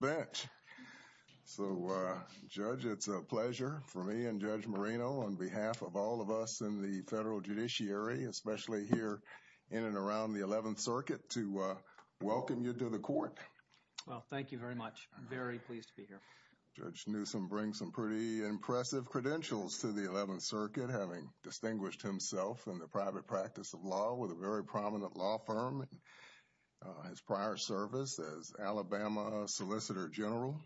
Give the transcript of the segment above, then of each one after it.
Bench. So, Judge, it's a pleasure for me and Judge Marino, on behalf of all of us in the federal judiciary, especially here in and around the 11th Circuit, to welcome you to the court. Well, thank you very much. I'm very pleased to be here. Judge Newsom brings some pretty impressive credentials to the 11th Circuit, having distinguished himself in the private practice of law with a very prominent law firm. His prior service as Alabama Solicitor General.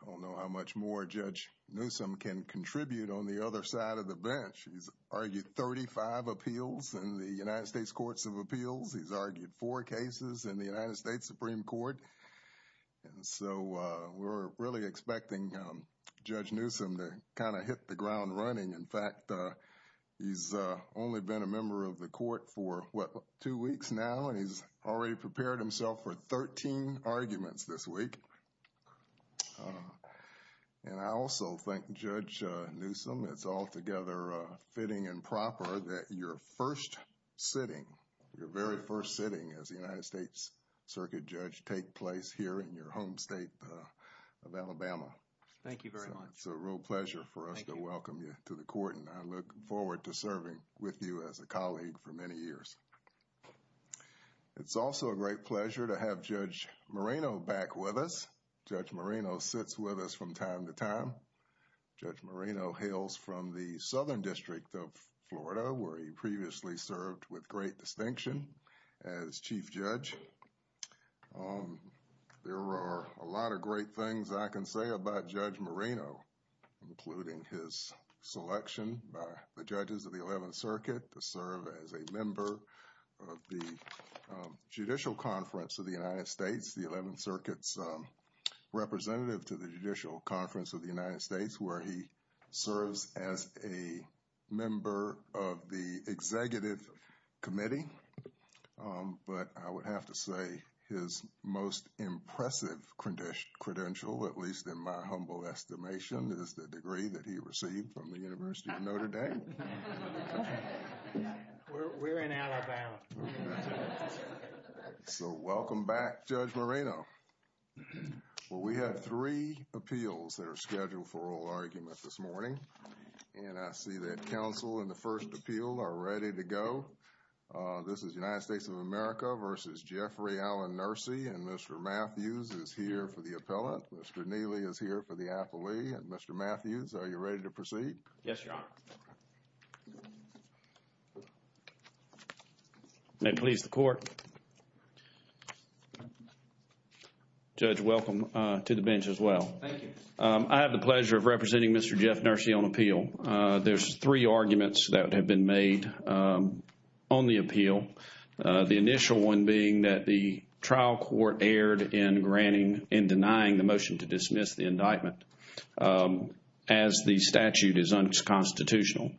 I don't know how much more Judge Newsom can contribute on the other side of the bench. He's argued 35 appeals in the United States Courts of Appeals. He's argued four cases in the United States Supreme Court. And so, we're really expecting Judge Newsom to kind of hit the ground running. In fact, he's only been a member of the already prepared himself for 13 arguments this week. And I also thank Judge Newsom. It's altogether fitting and proper that your first sitting, your very first sitting as the United States Circuit Judge take place here in your home state of Alabama. Thank you very much. It's a real pleasure for us to welcome you to the court. And I look forward to serving with you as a colleague for many years. It's also a great pleasure to have Judge Moreno back with us. Judge Moreno sits with us from time to time. Judge Moreno hails from the Southern District of Florida where he previously served with great distinction as Chief Judge. There are a lot of great things I can say about Judge Moreno, including his selection by the 11th Circuit to serve as a member of the Judicial Conference of the United States, the 11th Circuit's representative to the Judicial Conference of the United States, where he serves as a member of the Executive Committee. But I would have to say his most impressive credential, at least in my humble estimation, is the degree that he received from the University of Notre Dame. We're in Alabama. So welcome back, Judge Moreno. Well, we have three appeals that are scheduled for oral argument this morning. And I see that counsel in the first appeal are ready to go. This is United States of America versus Jeffrey Allen Nursi. And Mr. Matthews is here for the appellant. Mr. Neely is here for the appellee. Mr. Matthews, are you ready to proceed? Yes, Your Honor. May it please the Court. Judge, welcome to the bench as well. Thank you. I have the pleasure of representing Mr. Jeff Nursi on appeal. There's three arguments that have been made on the appeal. The initial one being that the trial court erred in denying the motion to dismiss the indictment as the statute is unconstitutional.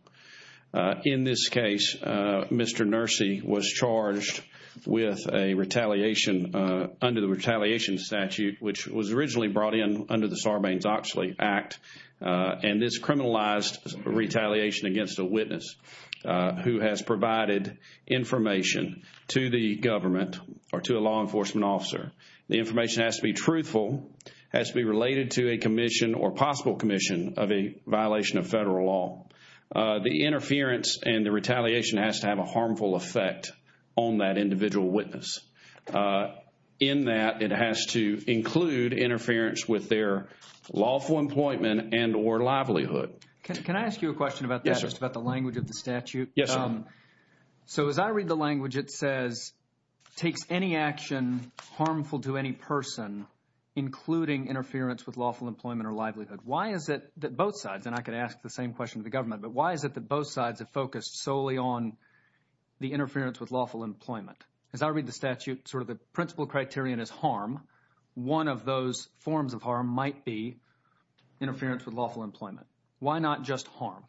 In this case, Mr. Nursi was charged with a retaliation under the Retaliation Statute, which was originally brought in under the Sarbanes-Oxley Act. And this criminalized retaliation against a witness who has provided information to the government or to a law enforcement officer. The information has to be truthful, has to be related to a commission or possible commission of a violation of federal law. The interference and the retaliation has to have a harmful effect on that individual witness. In that, it has to include interference with their lawful employment and or livelihood. Can I ask you a question about that, just about the language of the statute? Yes, sir. So, as I read the language, it says, takes any action harmful to any person, including interference with lawful employment or livelihood. Why is it that both sides, and I could ask the same question to the government, but why is it that both sides have focused solely on the interference with lawful employment? As I read the statute, sort of the principal criterion is harm. One of those forms of harm might be interference with lawful employment. Why not just harm?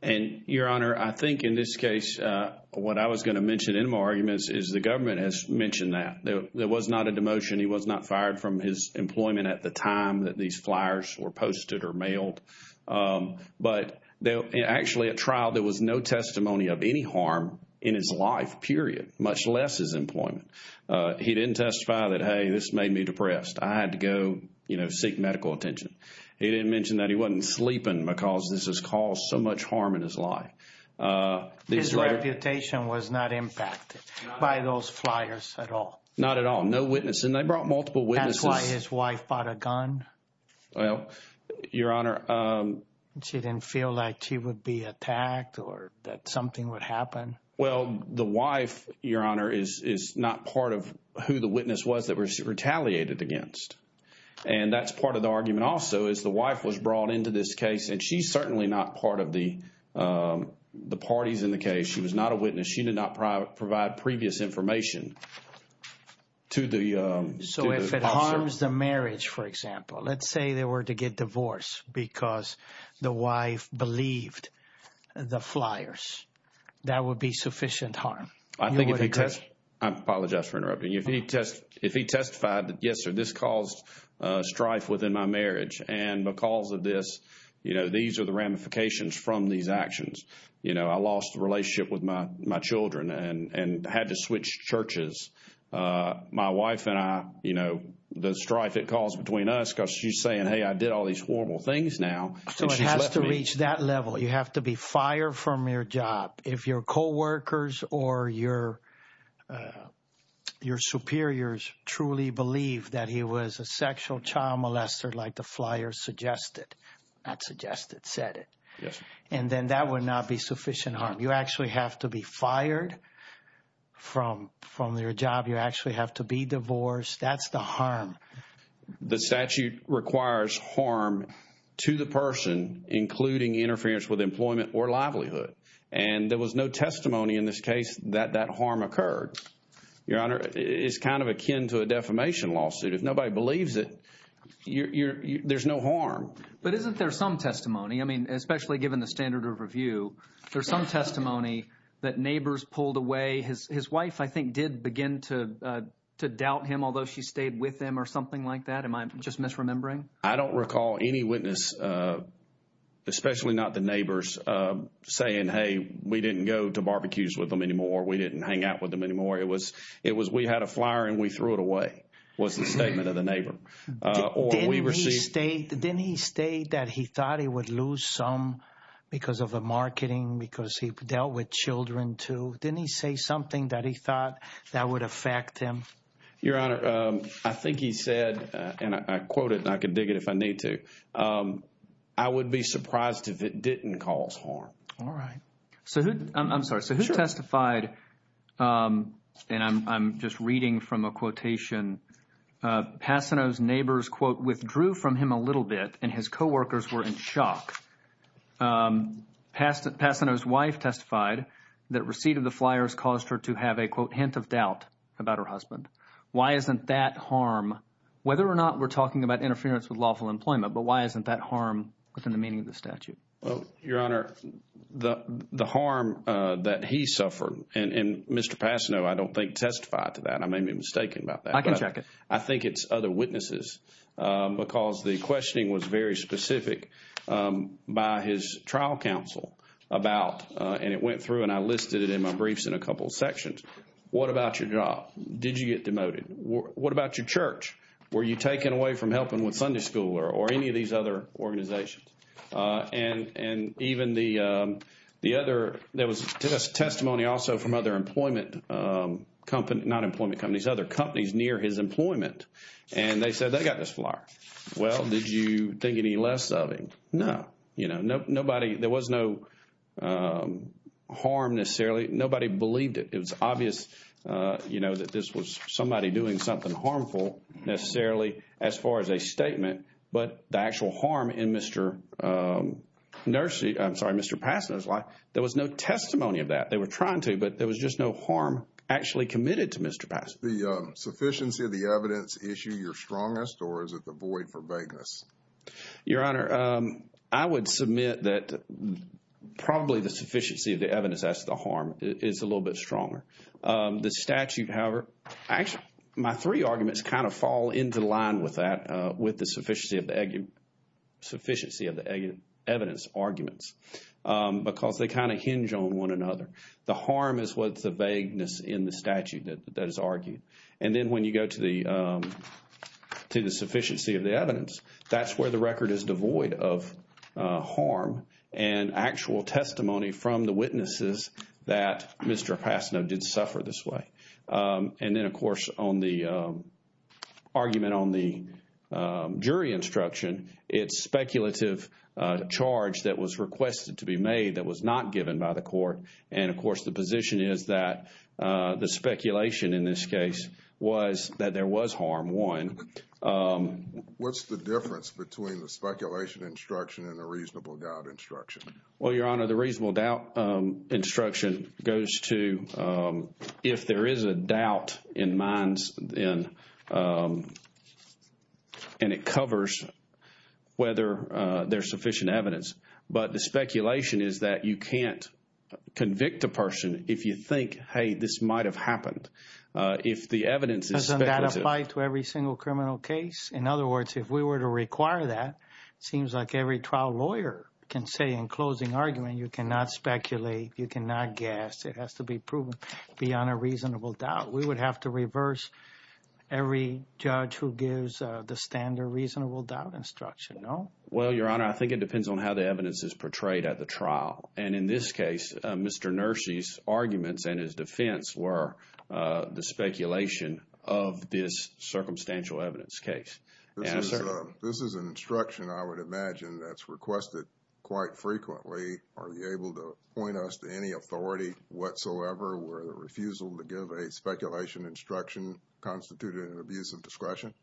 And, Your Honor, I think in this case, what I was going to mention in my arguments is the government has mentioned that. There was not a demotion. He was not fired from his employment at the time that these flyers were posted or mailed. But actually, at trial, there was no testimony of any harm in his life, much less his employment. He didn't testify that, hey, this made me depressed. I had to go, you know, seek medical attention. He didn't mention that he wasn't sleeping because this has caused so much harm in his life. His reputation was not impacted by those flyers at all. Not at all. No witness. And they brought multiple witnesses. That's why his wife bought a gun. Well, Your Honor. She didn't feel like she would be attacked or that something would happen. Well, the wife, Your Honor, is not part of who the witness was that was retaliated against. And that's part of the argument also is the wife was brought into this case. And she's certainly not part of the parties in the case. She was not a witness. She did not provide previous information to the officer. So if it harms the marriage, for example, let's say they were to get divorced because the wife believed the flyers, that would be sufficient harm. I apologize for interrupting. If he testified that, yes, sir, this caused strife within my marriage. And because of this, you know, these are the ramifications from these actions. You know, I lost the relationship with my children and had to switch churches. My wife and I, you know, the strife it caused between us because she's saying, hey, I did all these horrible things now. So it has to reach that level. You have to be fired from your job if your coworkers or your superiors truly believe that he was a sexual child molester like the flyers suggested, not suggested, said it. And then that would not be sufficient harm. You actually have to be fired from your job. You actually have to be divorced. That's the harm. The statute requires harm to the person, including interference with employment or livelihood. And there was no testimony in this case that that harm occurred. Your Honor, it's kind of akin to a defamation lawsuit. If nobody believes it, there's no harm. But isn't there some testimony? I mean, especially given the standard of review, there's some testimony that neighbors pulled away. His wife, I think, did begin to doubt him, although she stayed with him or something like that. Am I just misremembering? I don't recall any witness, especially not the neighbors, saying, hey, we didn't go to barbecues with them anymore. We didn't hang out with them anymore. It was it was we had a flyer and we threw it away, was the statement of the neighbor. Didn't he state that he thought he would lose some because of the marketing, because he dealt with children, too? Didn't he say something that he thought that would affect him? Your Honor, I think he said, and I quote it and I can dig it if I need to. I would be surprised if it didn't cause harm. All right. So I'm sorry. So who testified? And I'm just reading from a quotation. Passano's neighbors, quote, withdrew from him a little bit and his co-workers were in shock. Passano's wife testified that receipt of the flyers caused her to have a, quote, hint of doubt about her husband. Why isn't that harm? Whether or not we're talking about interference with lawful employment, but why isn't that harm within the meaning of the statute? Well, Your Honor, the harm that he suffered and Mr. Passano, I don't think testified to that. I may be mistaken about that. I can check it. I think it's other witnesses because the questioning was very specific by his trial counsel about, and it went through, and I listed it in my briefs in a couple of sections. What about your job? Did you get demoted? What about your church? Were you taken away from helping with Sunday school or any of these other organizations? And even the other, there was testimony also from other employment company, not employment companies, other companies near his employment, and they said they got this flyer. Well, did you think any less of him? No. You know, nobody, there was no harm necessarily. Nobody believed it. It was obvious, you know, that this was somebody doing something harmful necessarily as far as a statement, but the actual harm in Mr. Nursery, I'm sorry, Mr. Passano's life, there was no testimony of that. They were trying to, but there was just no harm actually committed to Mr. Passano. The sufficiency of the evidence issue your strongest, or is it the void for vagueness? Your Honor, I would submit that probably the sufficiency of the evidence, that's the harm, is a little bit stronger. The statute, however, actually my three arguments kind of fall into line with that, with the sufficiency of the evidence arguments because they kind of hinge on one another. The harm is what's the vagueness in the statute that is argued. And then when you go to the sufficiency of the evidence, that's where the record is devoid of harm and actual testimony from the witnesses that Mr. Passano did suffer this way. And then, of course, on the argument on the jury instruction, it's speculative charge that was requested to be made that was not given by the court. And, of course, the position is that the speculation in this case was that there was harm, one. What's the difference between the speculation instruction and the reasonable doubt instruction? Well, Your Honor, the reasonable doubt instruction goes to if there is a doubt in minds, and it covers whether there's sufficient evidence. But the speculation is that you can't convict a person if you think, hey, this might have happened. If the evidence is speculative. Doesn't that apply to every single criminal case? In other words, if we were to require that, it seems like every trial lawyer can say in closing argument, you cannot speculate, you cannot guess. It has to be proven beyond a reasonable doubt. We would have to reverse every judge who gives the standard reasonable doubt instruction, no? Well, Your Honor, I think it depends on how the evidence is portrayed at the trial. And in this case, Mr. Nursi's arguments and his defense were the speculation of this circumstantial evidence case. This is an instruction I would imagine that's requested quite frequently. Are you able to point us to any authority whatsoever where the refusal to give a speculation instruction constituted an abuse of discretion?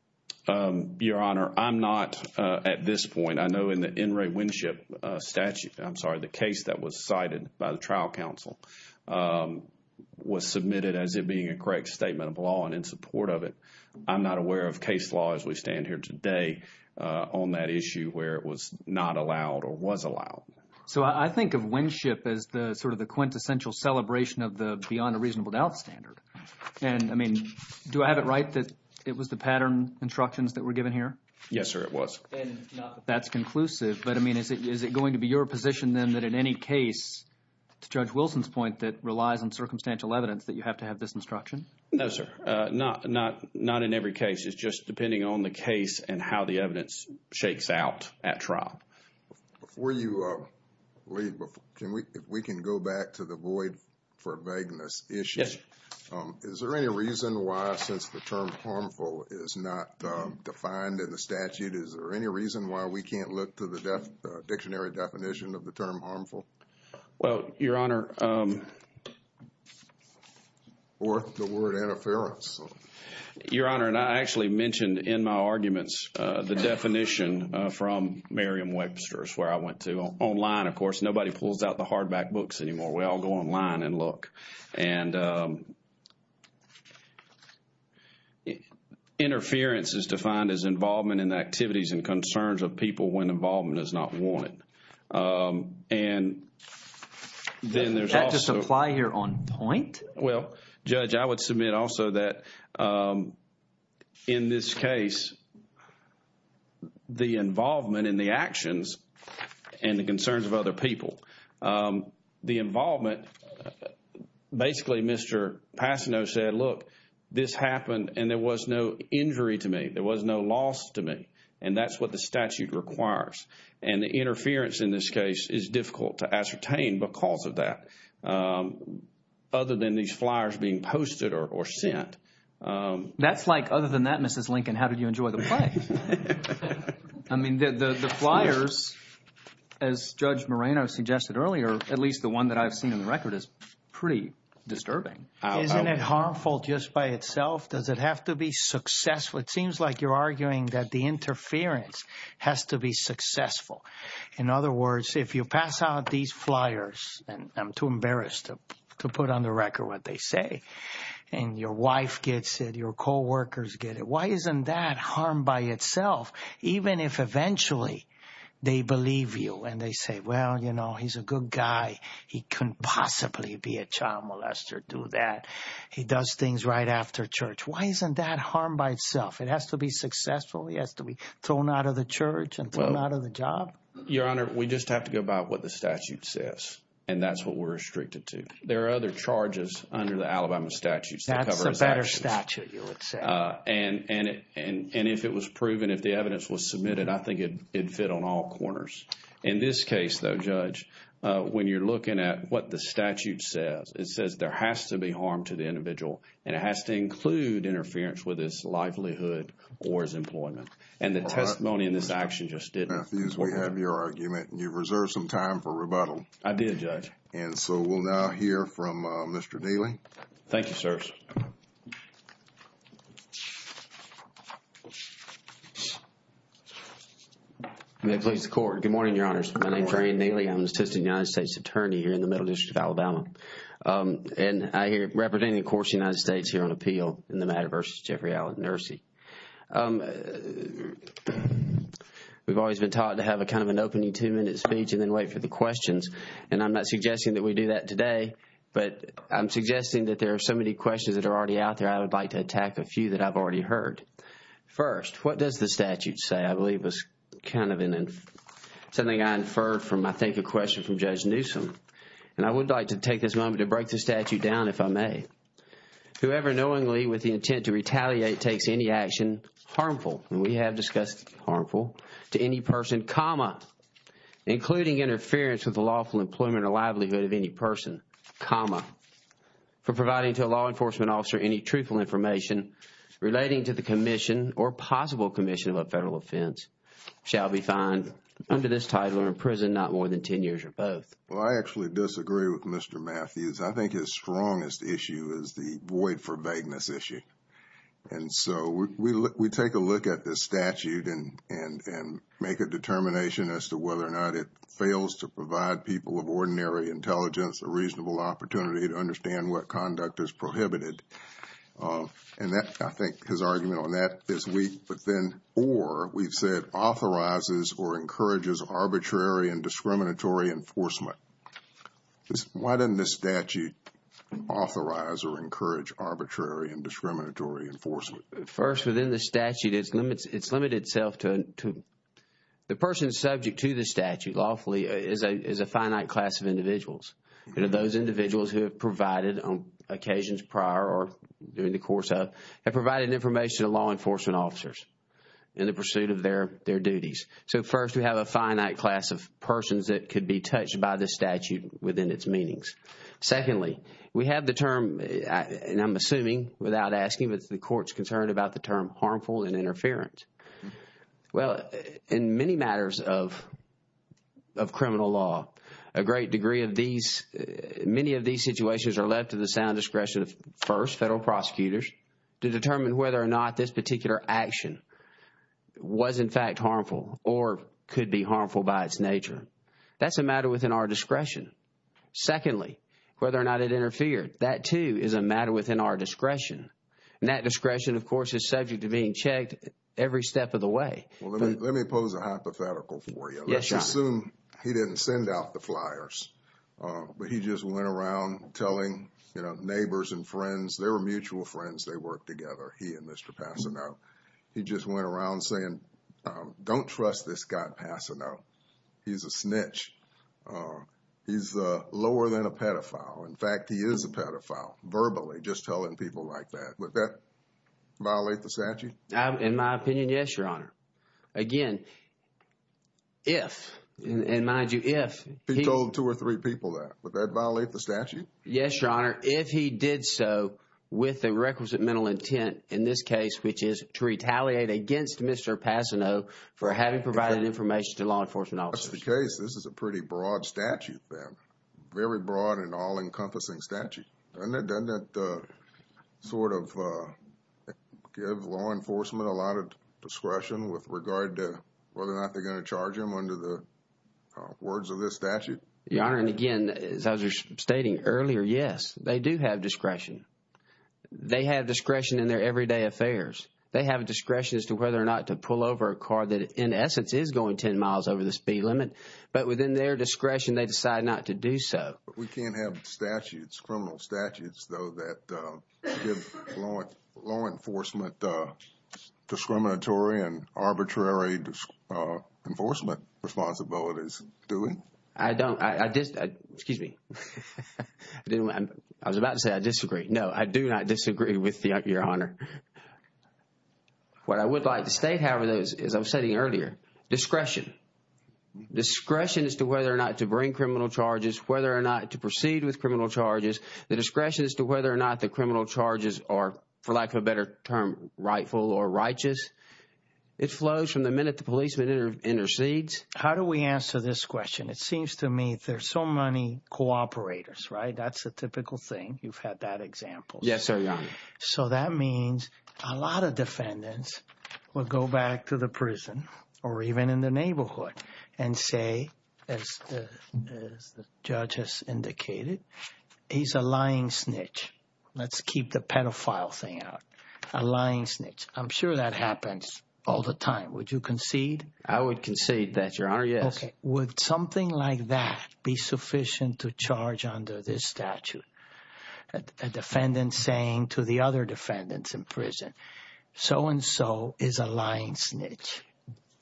Your Honor, I'm not at this point, I know in the N. Ray Winship statute, I'm sorry, the case that was cited by the trial council was submitted as it being a correct statement of law and in support of it. I'm not aware of case law as we stand here today on that issue where it was not allowed or was allowed. So I think of Winship as the sort of the quintessential celebration of the beyond a reasonable doubt standard. And I mean, do I have it right that it was the pattern instructions that were given here? Yes, sir, it was. And not that that's conclusive, but I mean, is it going to be your position then that in any case, to Judge Wilson's point, that relies on circumstantial evidence that you have to have this instruction? No, sir. Not in every case. It's just depending on the case and how the evidence shakes out at trial. Before you leave, if we can go back to the void for vagueness issue. Yes. Is there any reason why, since the term harmful is not defined in the statute, is there any reason why we can't look to the dictionary definition of the term harmful? Well, Your Honor. Or the word interference? Your Honor, and I actually mentioned in my Webster's where I went to online, of course, nobody pulls out the hardback books anymore. We all go online and look. And interference is defined as involvement in the activities and concerns of people when involvement is not wanted. And then there's also... Does that just apply here on point? Well, Judge, I would submit also that in this case, the involvement in the actions and the concerns of other people, the involvement... Basically, Mr. Passano said, look, this happened and there was no injury to me. There was no loss to me. And that's what the statute requires. And the interference in this case is difficult to ascertain because of that. Other than these flyers being posted or sent, that's like other than that, Mrs. Lincoln, how did you enjoy the play? I mean, the flyers, as Judge Moreno suggested earlier, at least the one that I've seen in the record is pretty disturbing. Isn't it harmful just by itself? Does it have to be successful? It seems like you're arguing that the interference has to be successful. In other words, if you pass out these flyers, and I'm too embarrassed to put on the get it. Why isn't that harm by itself? Even if eventually they believe you and they say, well, he's a good guy. He couldn't possibly be a child molester, do that. He does things right after church. Why isn't that harm by itself? It has to be successful. He has to be thrown out of the church and thrown out of the job. Your Honor, we just have to go by what the statute says. And that's what we're restricted to. There are other charges under the Alabama statutes. That's a better statute, you would say. And if it was proven, if the evidence was submitted, I think it'd fit on all corners. In this case, though, Judge, when you're looking at what the statute says, it says there has to be harm to the individual and it has to include interference with his livelihood or his employment. And the testimony in this action just didn't. Matthews, we have your argument and you've And so we'll now hear from Mr. Neely. Thank you, sirs. May it please the Court. Good morning, Your Honors. My name is Ryan Neely. I'm the Assistant United States Attorney here in the Middle District of Alabama. And I here representing, of course, the United States here on appeal in the matter versus Jeffrey Allen Nersey. We've always been taught to have a kind of an opening two-minute speech and then wait for questions. And I'm not suggesting that we do that today, but I'm suggesting that there are so many questions that are already out there, I would like to attack a few that I've already heard. First, what does the statute say? I believe it was kind of something I inferred from, I think, a question from Judge Newsom. And I would like to take this moment to break the statute down, if I may. Whoever knowingly with the intent to retaliate takes any action harmful, and we have lawful employment or livelihood of any person, comma, for providing to a law enforcement officer any truthful information relating to the commission or possible commission of a federal offense shall be fined under this title or imprisoned not more than 10 years or both. Well, I actually disagree with Mr. Matthews. I think his strongest issue is the void for vagueness issue. And so we take a look at the statute and make a determination as to whether or not it fails to provide people of ordinary intelligence a reasonable opportunity to understand what conduct is prohibited. And that, I think, his argument on that is weak. But then, or, we've said authorizes or encourages arbitrary and discriminatory enforcement. Why didn't the statute authorize or encourage arbitrary and discriminatory enforcement? First, within the statute, it's limited itself to the person subject to the statute lawfully is a finite class of individuals. You know, those individuals who have provided on occasions prior or during the course of, have provided information to law enforcement officers in the pursuit of their duties. So, first, we have a finite class of persons that could be touched by the statute within its meanings. Secondly, we have the term, and I'm assuming without asking, but the court's concerned about the term harmful and interference. Well, in many matters of criminal law, a great degree of these, many of these situations are left to the sound discretion of first, federal prosecutors to determine whether or not this particular action was in fact harmful or could be harmful by its nature. That's a matter within our discretion. Secondly, whether or not it interfered, that too is a matter within our discretion. And that discretion, of course, is subject to being checked every step of the way. Well, let me pose a hypothetical for you. Let's assume he didn't send out the flyers, but he just went around telling, you know, neighbors and friends, they were mutual friends, they worked together, he and Mr. Passano. He just went around saying, don't trust this guy, Mr. Passano. He's a snitch. He's lower than a pedophile. In fact, he is a pedophile, verbally, just telling people like that. Would that violate the statute? In my opinion, yes, Your Honor. Again, if, and mind you, if... He told two or three people that. Would that violate the statute? Yes, Your Honor. If he did so with the requisite mental intent, in this case, which is to retaliate against Mr. Passano for having provided information to law enforcement officers. If that's the case, this is a pretty broad statute then. Very broad and all-encompassing statute. Doesn't it sort of give law enforcement a lot of discretion with regard to whether or not they're going to charge him under the words of this statute? Your Honor, and again, as I was stating earlier, yes, they do have discretion. They have discretion in their everyday affairs. They have discretion as to whether or not to pull over a car that, in essence, is going 10 miles over the speed limit. But within their discretion, they decide not to do so. We can't have criminal statutes though that give law enforcement discriminatory and arbitrary enforcement responsibilities, do we? I don't. Excuse me. I was about to say I disagree. No, I do not disagree with you, Your Honor. What I would like to state, however, as I was stating earlier, discretion. Discretion as to whether or not to bring criminal charges, whether or not to proceed with criminal charges, the discretion as to whether or not the criminal charges are, for lack of a better term, rightful or righteous. It flows from the minute the policeman intercedes. How do we answer this question? It seems to me there's so many cooperators, right? That's a typical thing. You've had that example. Yes, sir, Your Honor. So that means a lot of defendants will go back to the prison or even in the neighborhood and say, as the judge has indicated, he's a lying snitch. Let's keep the pedophile thing out. A lying snitch. I'm sure that happens all the time. Would you concede? I would concede that, Your Honor. Yes. Okay. Would something like that be sufficient to charge under this statute? A defendant saying to the other defendants in prison, so and so is a lying snitch.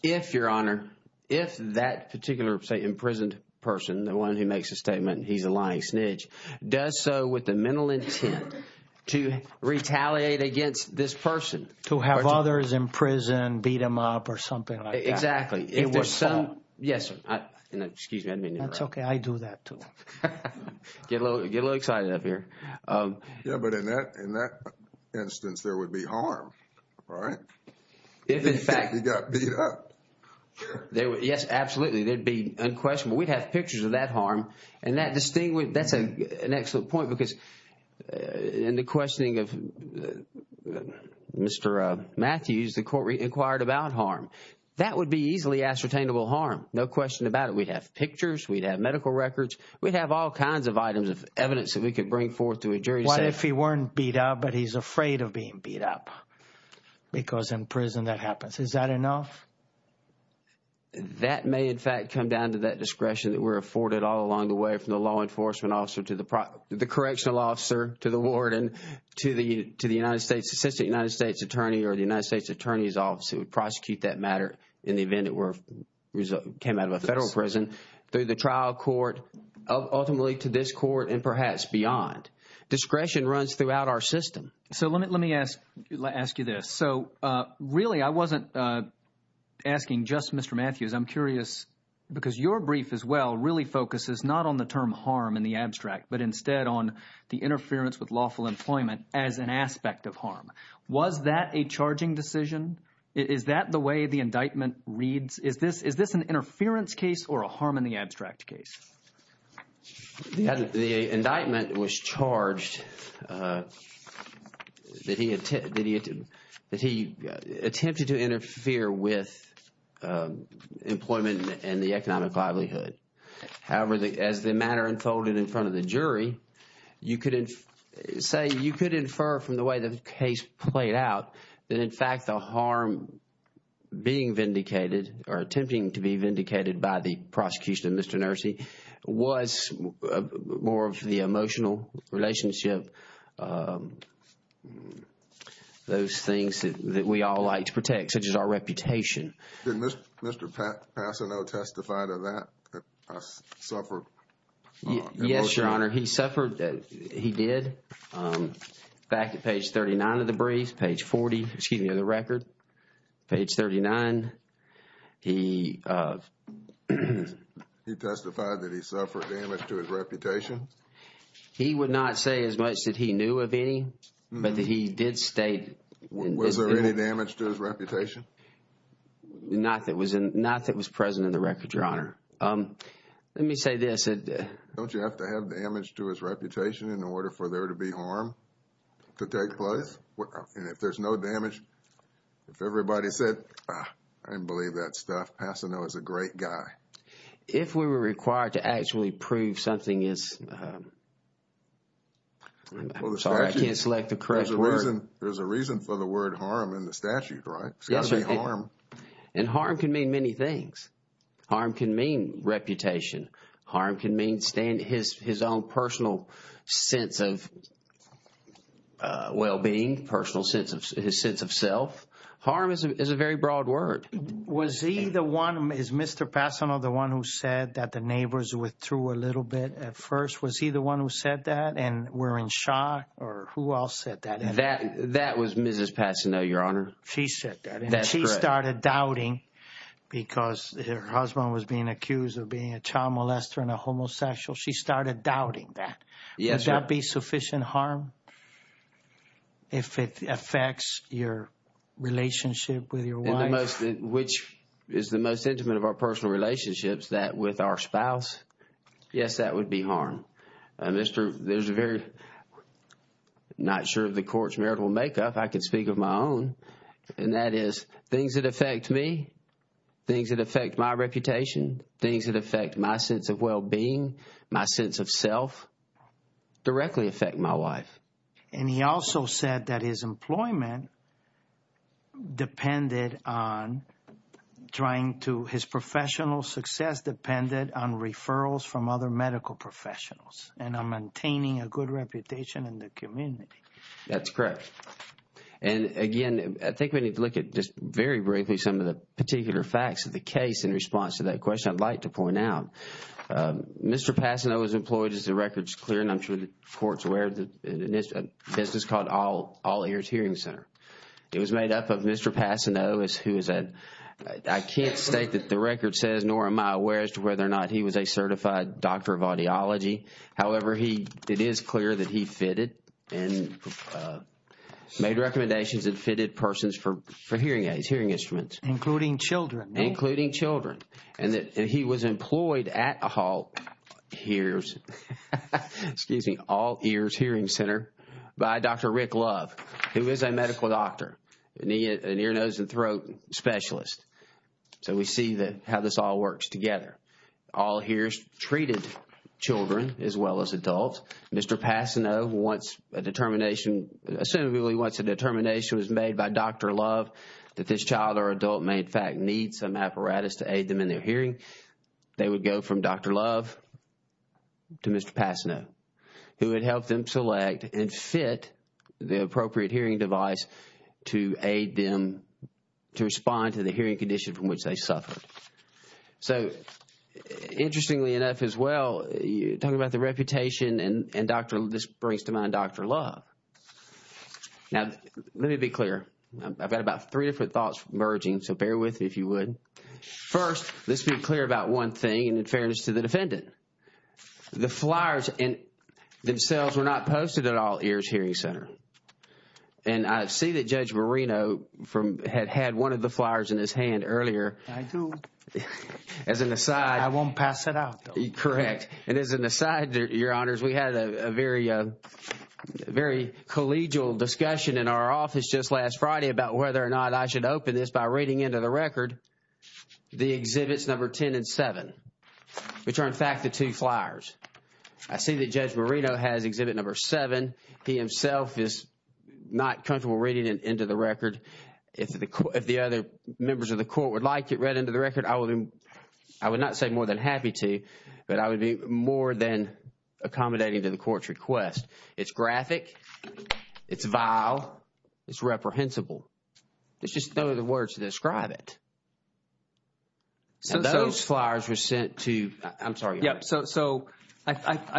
If, Your Honor, if that particular imprisoned person, the one who makes a statement, he's a lying snitch, does so with the mental intent to retaliate against this person. To have others in prison beat him up or something like that. Exactly. If there's some... Yes, sir. Excuse me. I didn't mean to interrupt. That's okay. I do that too. Get a little excited up here. Yeah, but in that instance, there would be harm, right? If, in fact... If he got beat up. Yes, absolutely. There'd be unquestionable. We'd have pictures of that harm. And that's an excellent point because in the questioning of Mr. Matthews, the court inquired about harm. That would be easily ascertainable harm. No question about it. We'd have pictures. We'd have medical records. We'd have all kinds of items of evidence that we could bring forth to a jury to say... What if he weren't beat up, but he's afraid of being beat up? Because in prison that happens. Is that enough? That may, in fact, come down to that discretion that we're afforded all along the way from the law enforcement officer to the correctional officer, to the warden, to the assistant United States attorney or the United States attorney's office who would prosecute that matter in the event it came out of a federal prison, through the trial court, ultimately to this court, and perhaps beyond. Discretion runs throughout our system. So let me ask you this. So really, I wasn't asking just Mr. Matthews. I'm curious, because your brief as well really focuses not on the term harm in the abstract, but instead on the interference with lawful employment as an aspect of harm. Was that a charging decision? Is that the way the indictment reads? Is this an interference case or a harm in the abstract case? The indictment was charged that he attempted to interfere with employment and the economic livelihood. However, as the matter unfolded in front of the jury, you could say, you could infer from the way the case played out that, in fact, the harm being vindicated or attempting to be was more of the emotional relationship, those things that we all like to protect, such as our reputation. Didn't Mr. Passano testify to that? Yes, Your Honor. He suffered. He did. Back at page 39 of the brief, page 40, excuse me, of the record, page 39, he... He testified that he suffered damage to his reputation? He would not say as much that he knew of any, but he did state... Was there any damage to his reputation? Not that was present in the record, Your Honor. Let me say this. Don't you have to have damage to his reputation in order for there to be harm to take place? And if there's no damage, if everybody said, I didn't believe that stuff, Passano is a great guy. If we were required to actually prove something is... Sorry, I can't select the correct word. There's a reason for the word harm in the statute, right? It's got to be harm. And harm can mean many things. Harm can mean reputation. Harm can mean his own personal sense of well-being, personal sense of his sense of self. Harm is a very broad word. Was he the one, is Mr. Passano the one who said that the neighbors withdrew a little bit at first? Was he the one who said that and were in shock or who else said that? That was Mrs. Passano, Your Honor. She said that. That's correct. She started doubting because her husband was being accused of being a child molester and homosexual. She started doubting that. Would that be sufficient harm if it affects your relationship with your wife? Which is the most intimate of our personal relationships, that with our spouse. Yes, that would be harm. There's a very... I'm not sure of the court's marital makeup. I can speak of my own. And that is things that affect me, things that affect my reputation, things that affect my sense of well-being, my sense of self, directly affect my wife. And he also said that his employment depended on trying to... his professional success depended on referrals from other medical professionals and on maintaining a good reputation in the community. That's correct. And again, I think we need to look at just very briefly some of the particular facts of the case in response to that question I'd like to point out. Mr. Passano was employed, as the record's clear, and I'm sure the court's aware, in a business called All Ears Hearing Center. It was made up of Mr. Passano, who is a... I can't state that the record says, nor am I aware as to whether or not he was a certified doctor of audiology. However, it is clear that he fitted and made recommendations and fitted persons for hearing aids, hearing instruments. Including children, right? Including children. And he was employed at All Ears Hearing Center by Dr. Rick Love, who is a medical doctor, an ear, nose, and throat specialist. So we see how this all works together. All Ears treated children as well as adults. Mr. Passano, once a determination... that this child or adult may, in fact, need some apparatus to aid them in their hearing, they would go from Dr. Love to Mr. Passano, who would help them select and fit the appropriate hearing device to aid them to respond to the hearing condition from which they suffered. So, interestingly enough as well, talking about the reputation, and this brings to mind Dr. Love. Now, let me be clear. I've got about three different thoughts emerging, so bear with me if you would. First, let's be clear about one thing, and in fairness to the defendant. The flyers themselves were not posted at All Ears Hearing Center. And I see that Judge Marino had had one of the flyers in his hand earlier. I do. As an aside... I won't pass it out, though. Correct. And as an aside, Your Honors, we had a very collegial discussion in our office just last Friday about whether or not I should open this by reading into the record the exhibits number 10 and 7, which are, in fact, the two flyers. I see that Judge Marino has exhibit number 7. He himself is not comfortable reading it into the record. If the other members of the court would like it read into the record, I would not say more than happy to, but I would be more than accommodating to the court's request. It's graphic. It's vile. It's reprehensible. There's just no other words to describe it. So, those flyers were sent to... I'm sorry. Yeah. So, I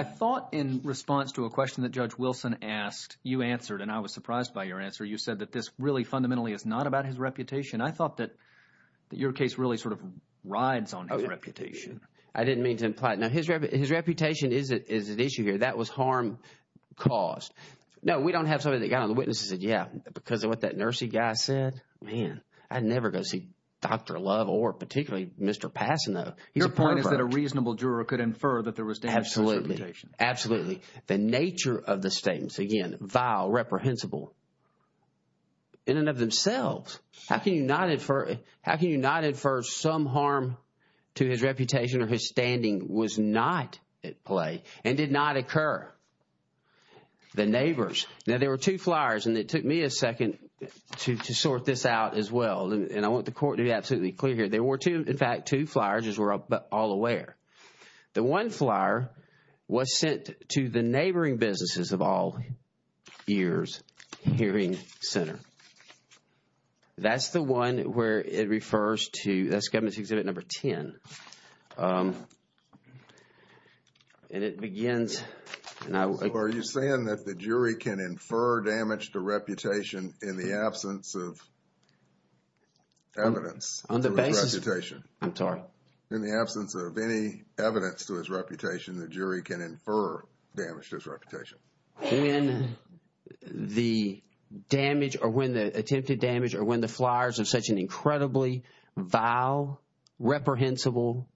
thought in response to a question that Judge Wilson asked, you answered, and I was surprised by your answer. You said that this really fundamentally is not about his reputation. I thought that your case really sort of rides on his reputation. I didn't mean to imply it. Now, his reputation is an issue here. That was harm caused. No, we don't have somebody that got on the witness and said, yeah, because of what that nursing guy said, man, I'd never go see Dr. Love or particularly Mr. Passano. Your point is that a reasonable juror could infer that there was damage to his reputation. Absolutely. The nature of the statements, again, vile, reprehensible, in and of themselves. How can you not infer some harm to his reputation or his standing was not at play and did not occur? The neighbors. Now, there were two flyers, and it took me a second to sort this out as well, and I want the court to be absolutely clear here. There were two, in fact, two flyers, as we're all aware. The one flyer was sent to the neighboring businesses of All Ears Hearing Center. That's the one where it refers to, that's government exhibit number 10. And it begins. Are you saying that the jury can infer damage to reputation in the absence of evidence? On the basis of reputation. I'm sorry. In the absence of any evidence to his reputation, the jury can infer damage to his reputation. When the damage, or when the attempted damage, or when the flyers are such an incredibly vile, reprehensible.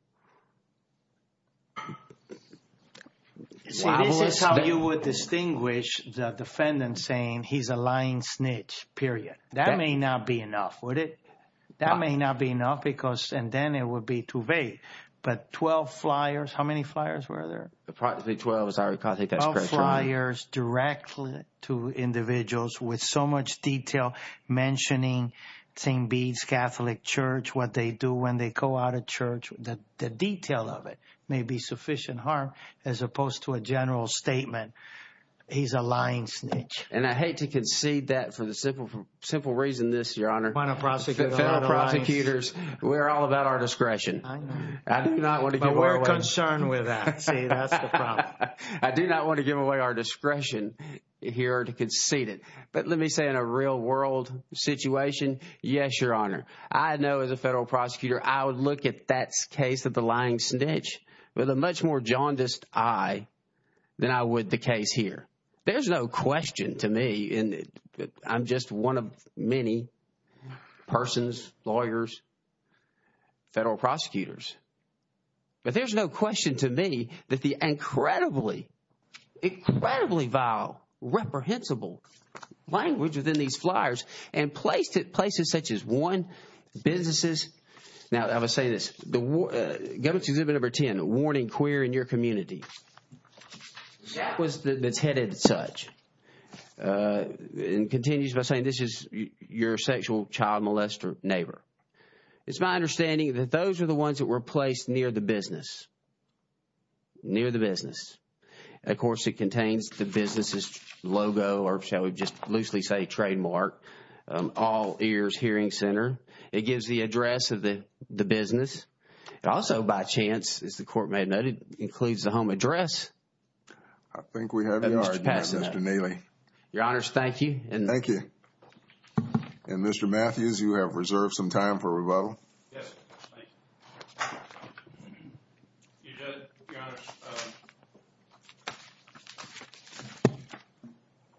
See, this is how you would distinguish the defendant saying he's a lying snitch, period. That may not be enough, would it? That may not be enough because, and then it would be too vague. But 12 flyers, how many flyers were there? Probably 12, as I recall. I think that's correct. 12 flyers directly to individuals with so much detail mentioning St. Bede's Catholic Church, what they do when they go out of church, that the detail of it may be sufficient harm, as opposed to a general statement. He's a lying snitch. And I hate to concede that for the simple reason this, Your Honor. Final prosecutor. Fellow prosecutors, we're all about our discretion. I know. I do not want to go that way. But we're concerned with that. That's the problem. I do not want to give away our discretion here to concede it. But let me say in a real world situation, yes, Your Honor. I know as a federal prosecutor, I would look at that case of the lying snitch with a much more jaundiced eye than I would the case here. There's no question to me, and I'm just one of many persons, lawyers, federal prosecutors. But there's no question to me that the incredibly, incredibly vile, reprehensible language within these flyers and placed it places such as one businesses. Now, I would say this, the government's exhibit number 10, warning queer in your community. That was that's headed such and continues by saying this is your sexual child molester neighbor. It's my understanding that those are the ones that were placed near the business. Near the business. Of course, it contains the business's logo, or shall we just loosely say trademark, all ears hearing center. It gives the address of the business. Also, by chance, as the court may have noted, includes the home address. I think we have your order, Mr. Neely. Your Honors, thank you. Thank you. And Mr. Matthews, you have reserved some time for rebuttal. Yes.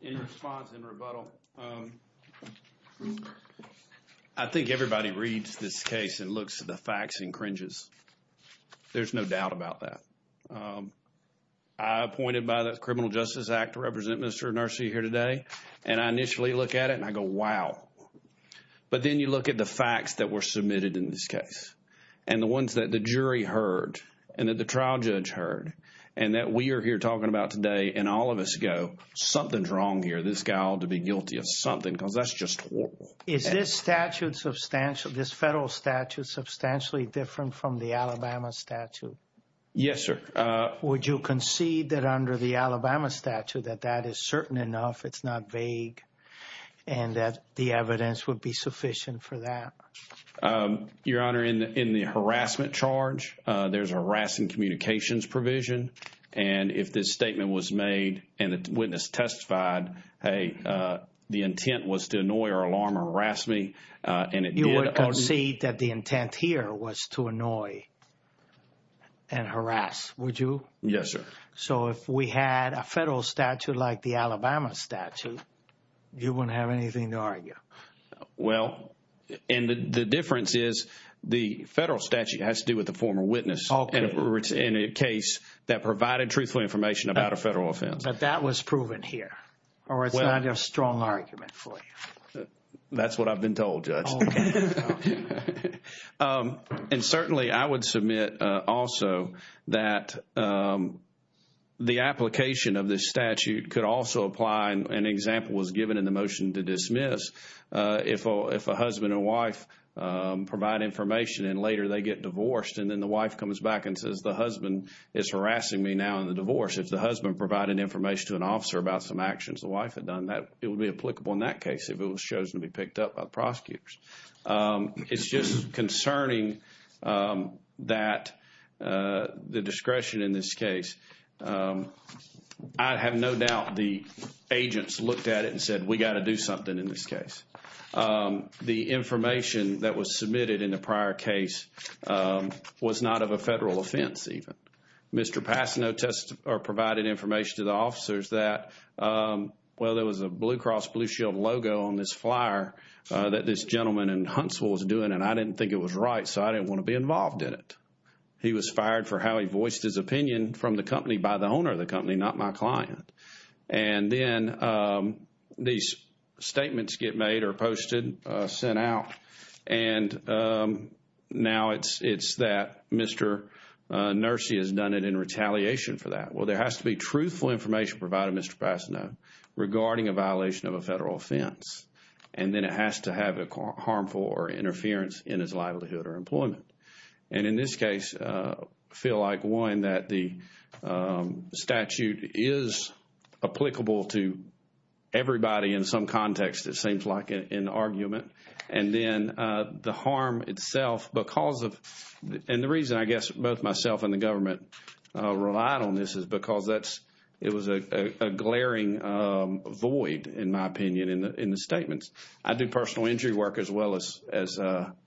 In response and rebuttal. I think everybody reads this case and looks at the facts and cringes. There's no doubt about that. I appointed by the Criminal Justice Act to represent Mr. Nersey here today. And I initially look at it and I go, wow. But then you look at the facts that were submitted in this case and the ones that the jury heard and that the trial judge heard and that we are here talking about today. And all of us go, something's wrong here. This guy ought to be guilty of something because that's just horrible. Is this statute substantial? This federal statute substantially different from the Alabama statute? Yes, sir. Would you concede that under the Alabama statute that that is certain enough? It's not vague and that the evidence would be sufficient for that? Your Honor, in the harassment charge, there's a harassing communications provision. And if this statement was made and the witness testified, hey, the intent was to annoy or alarm or harass me and it did. You would concede that the intent here was to annoy and harass, would you? Yes, sir. So if we had a federal statute like the Alabama statute, you wouldn't have anything to argue? Well, and the difference is the federal statute has to do with the former witness in a case that provided truthful information about a federal offense. But that was proven here or it's not a strong argument for you? That's what I've been told, Judge. And certainly, I would submit also that the application of this statute could also apply, an example was given in the motion to dismiss, if a husband and wife provide information and later they get divorced and then the wife comes back and says the husband is harassing me now in the divorce. If the husband provided information to an officer about some actions the wife had done, it would be applicable in that case if it was chosen to be picked up by the prosecutors. It's just concerning that the discretion in this case, I have no doubt the agents looked at it and said, we got to do something in this case. The information that was submitted in the prior case was not of a federal offense even. Mr. Passano provided information to the officers that, well, there was a Blue Cross Blue Shield logo on this flyer that this gentleman in Huntsville was doing and I didn't think it was right, so I didn't want to be involved in it. He was fired for how he voiced his opinion from the company by the owner of the company, not my client. And then these statements get made or posted, sent out, and now it's that Mr. Nursi has done it in retaliation for that. Well, there has to be truthful information provided, Mr. Passano, regarding a violation of a federal offense. And then it has to have a harmful or interference in his livelihood or employment. And in this case, I feel like, one, that the statute is applicable to everybody in some context, it seems like, in the argument. And then the harm itself because of, and the reason I guess both myself and the government relied on this is because that's, it was a glaring void, in my opinion, in the statements. I do personal injury work as well as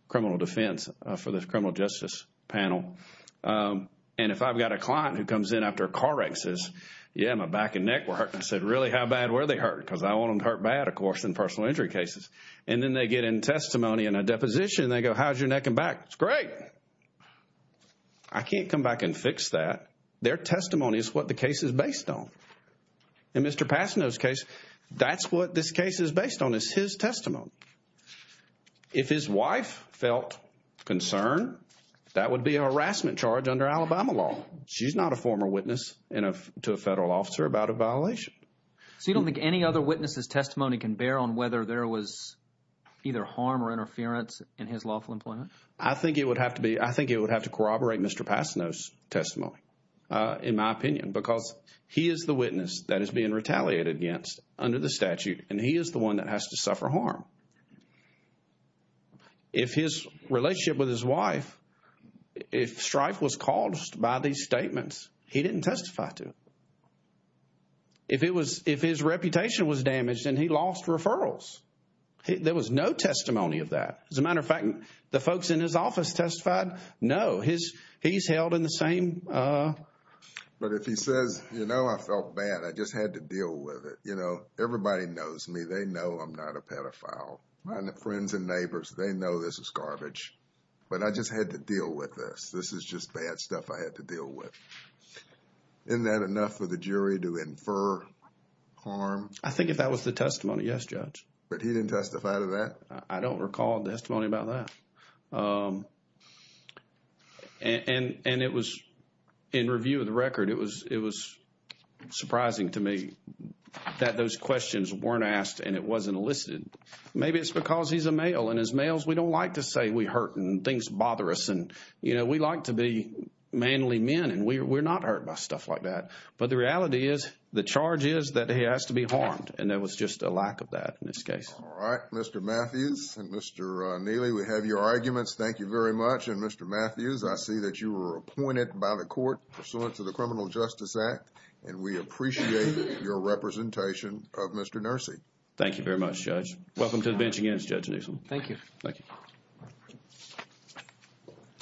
criminal defense for the criminal justice panel. And if I've got a client who comes in after a car wreck and says, yeah, my back and neck were hurt and said, really? How bad were they hurt? Because I want them to hurt bad, of course, in personal injury cases. And then they get in testimony and a deposition and they go, how's your neck and back? It's great. I can't come back and fix that. Their testimony is what the case is based on. In Mr. Passano's case, that's what this case is based on, is his testimony. If his wife felt concern, that would be a harassment charge under Alabama law. She's not a former witness to a federal officer about a violation. So you don't think any other witness's testimony can bear on whether there was either harm or interference in his lawful employment? I think it would have to be, I think it would have to corroborate Mr. Passano's testimony. In my opinion, because he is the witness that is being retaliated against under the statute and he is the one that has to suffer harm. If his relationship with his wife, if strife was caused by these statements, he didn't testify to. If it was, if his reputation was damaged and he lost referrals, there was no testimony of that. As a matter of fact, the folks in his office testified, no, he's held in the same. But if he says, you know, I felt bad. I just had to deal with it. You know, everybody knows me. They know I'm not a pedophile. My friends and neighbors, they know this is garbage. But I just had to deal with this. This is just bad stuff I had to deal with. Isn't that enough for the jury to infer harm? I think if that was the testimony, yes, Judge. But he didn't testify to that? I don't recall a testimony about that. And it was, in review of the record, it was surprising to me that those questions weren't asked and it wasn't elicited. Maybe it's because he's a male. And as males, we don't like to say we hurt and things bother us. And, you know, we like to be manly men and we're not hurt by stuff like that. But the reality is, the charge is that he has to be harmed. And there was just a lack of that in this case. All right. Mr. Matthews and Mr. Neely, we have your arguments. Thank you very much. And Mr. Matthews, I see that you were appointed by the court pursuant to the Criminal Justice Act. And we appreciate your representation of Mr. Nursi. Thank you very much, Judge. Welcome to the bench again, Judge Newsom. Thank you. Thank you.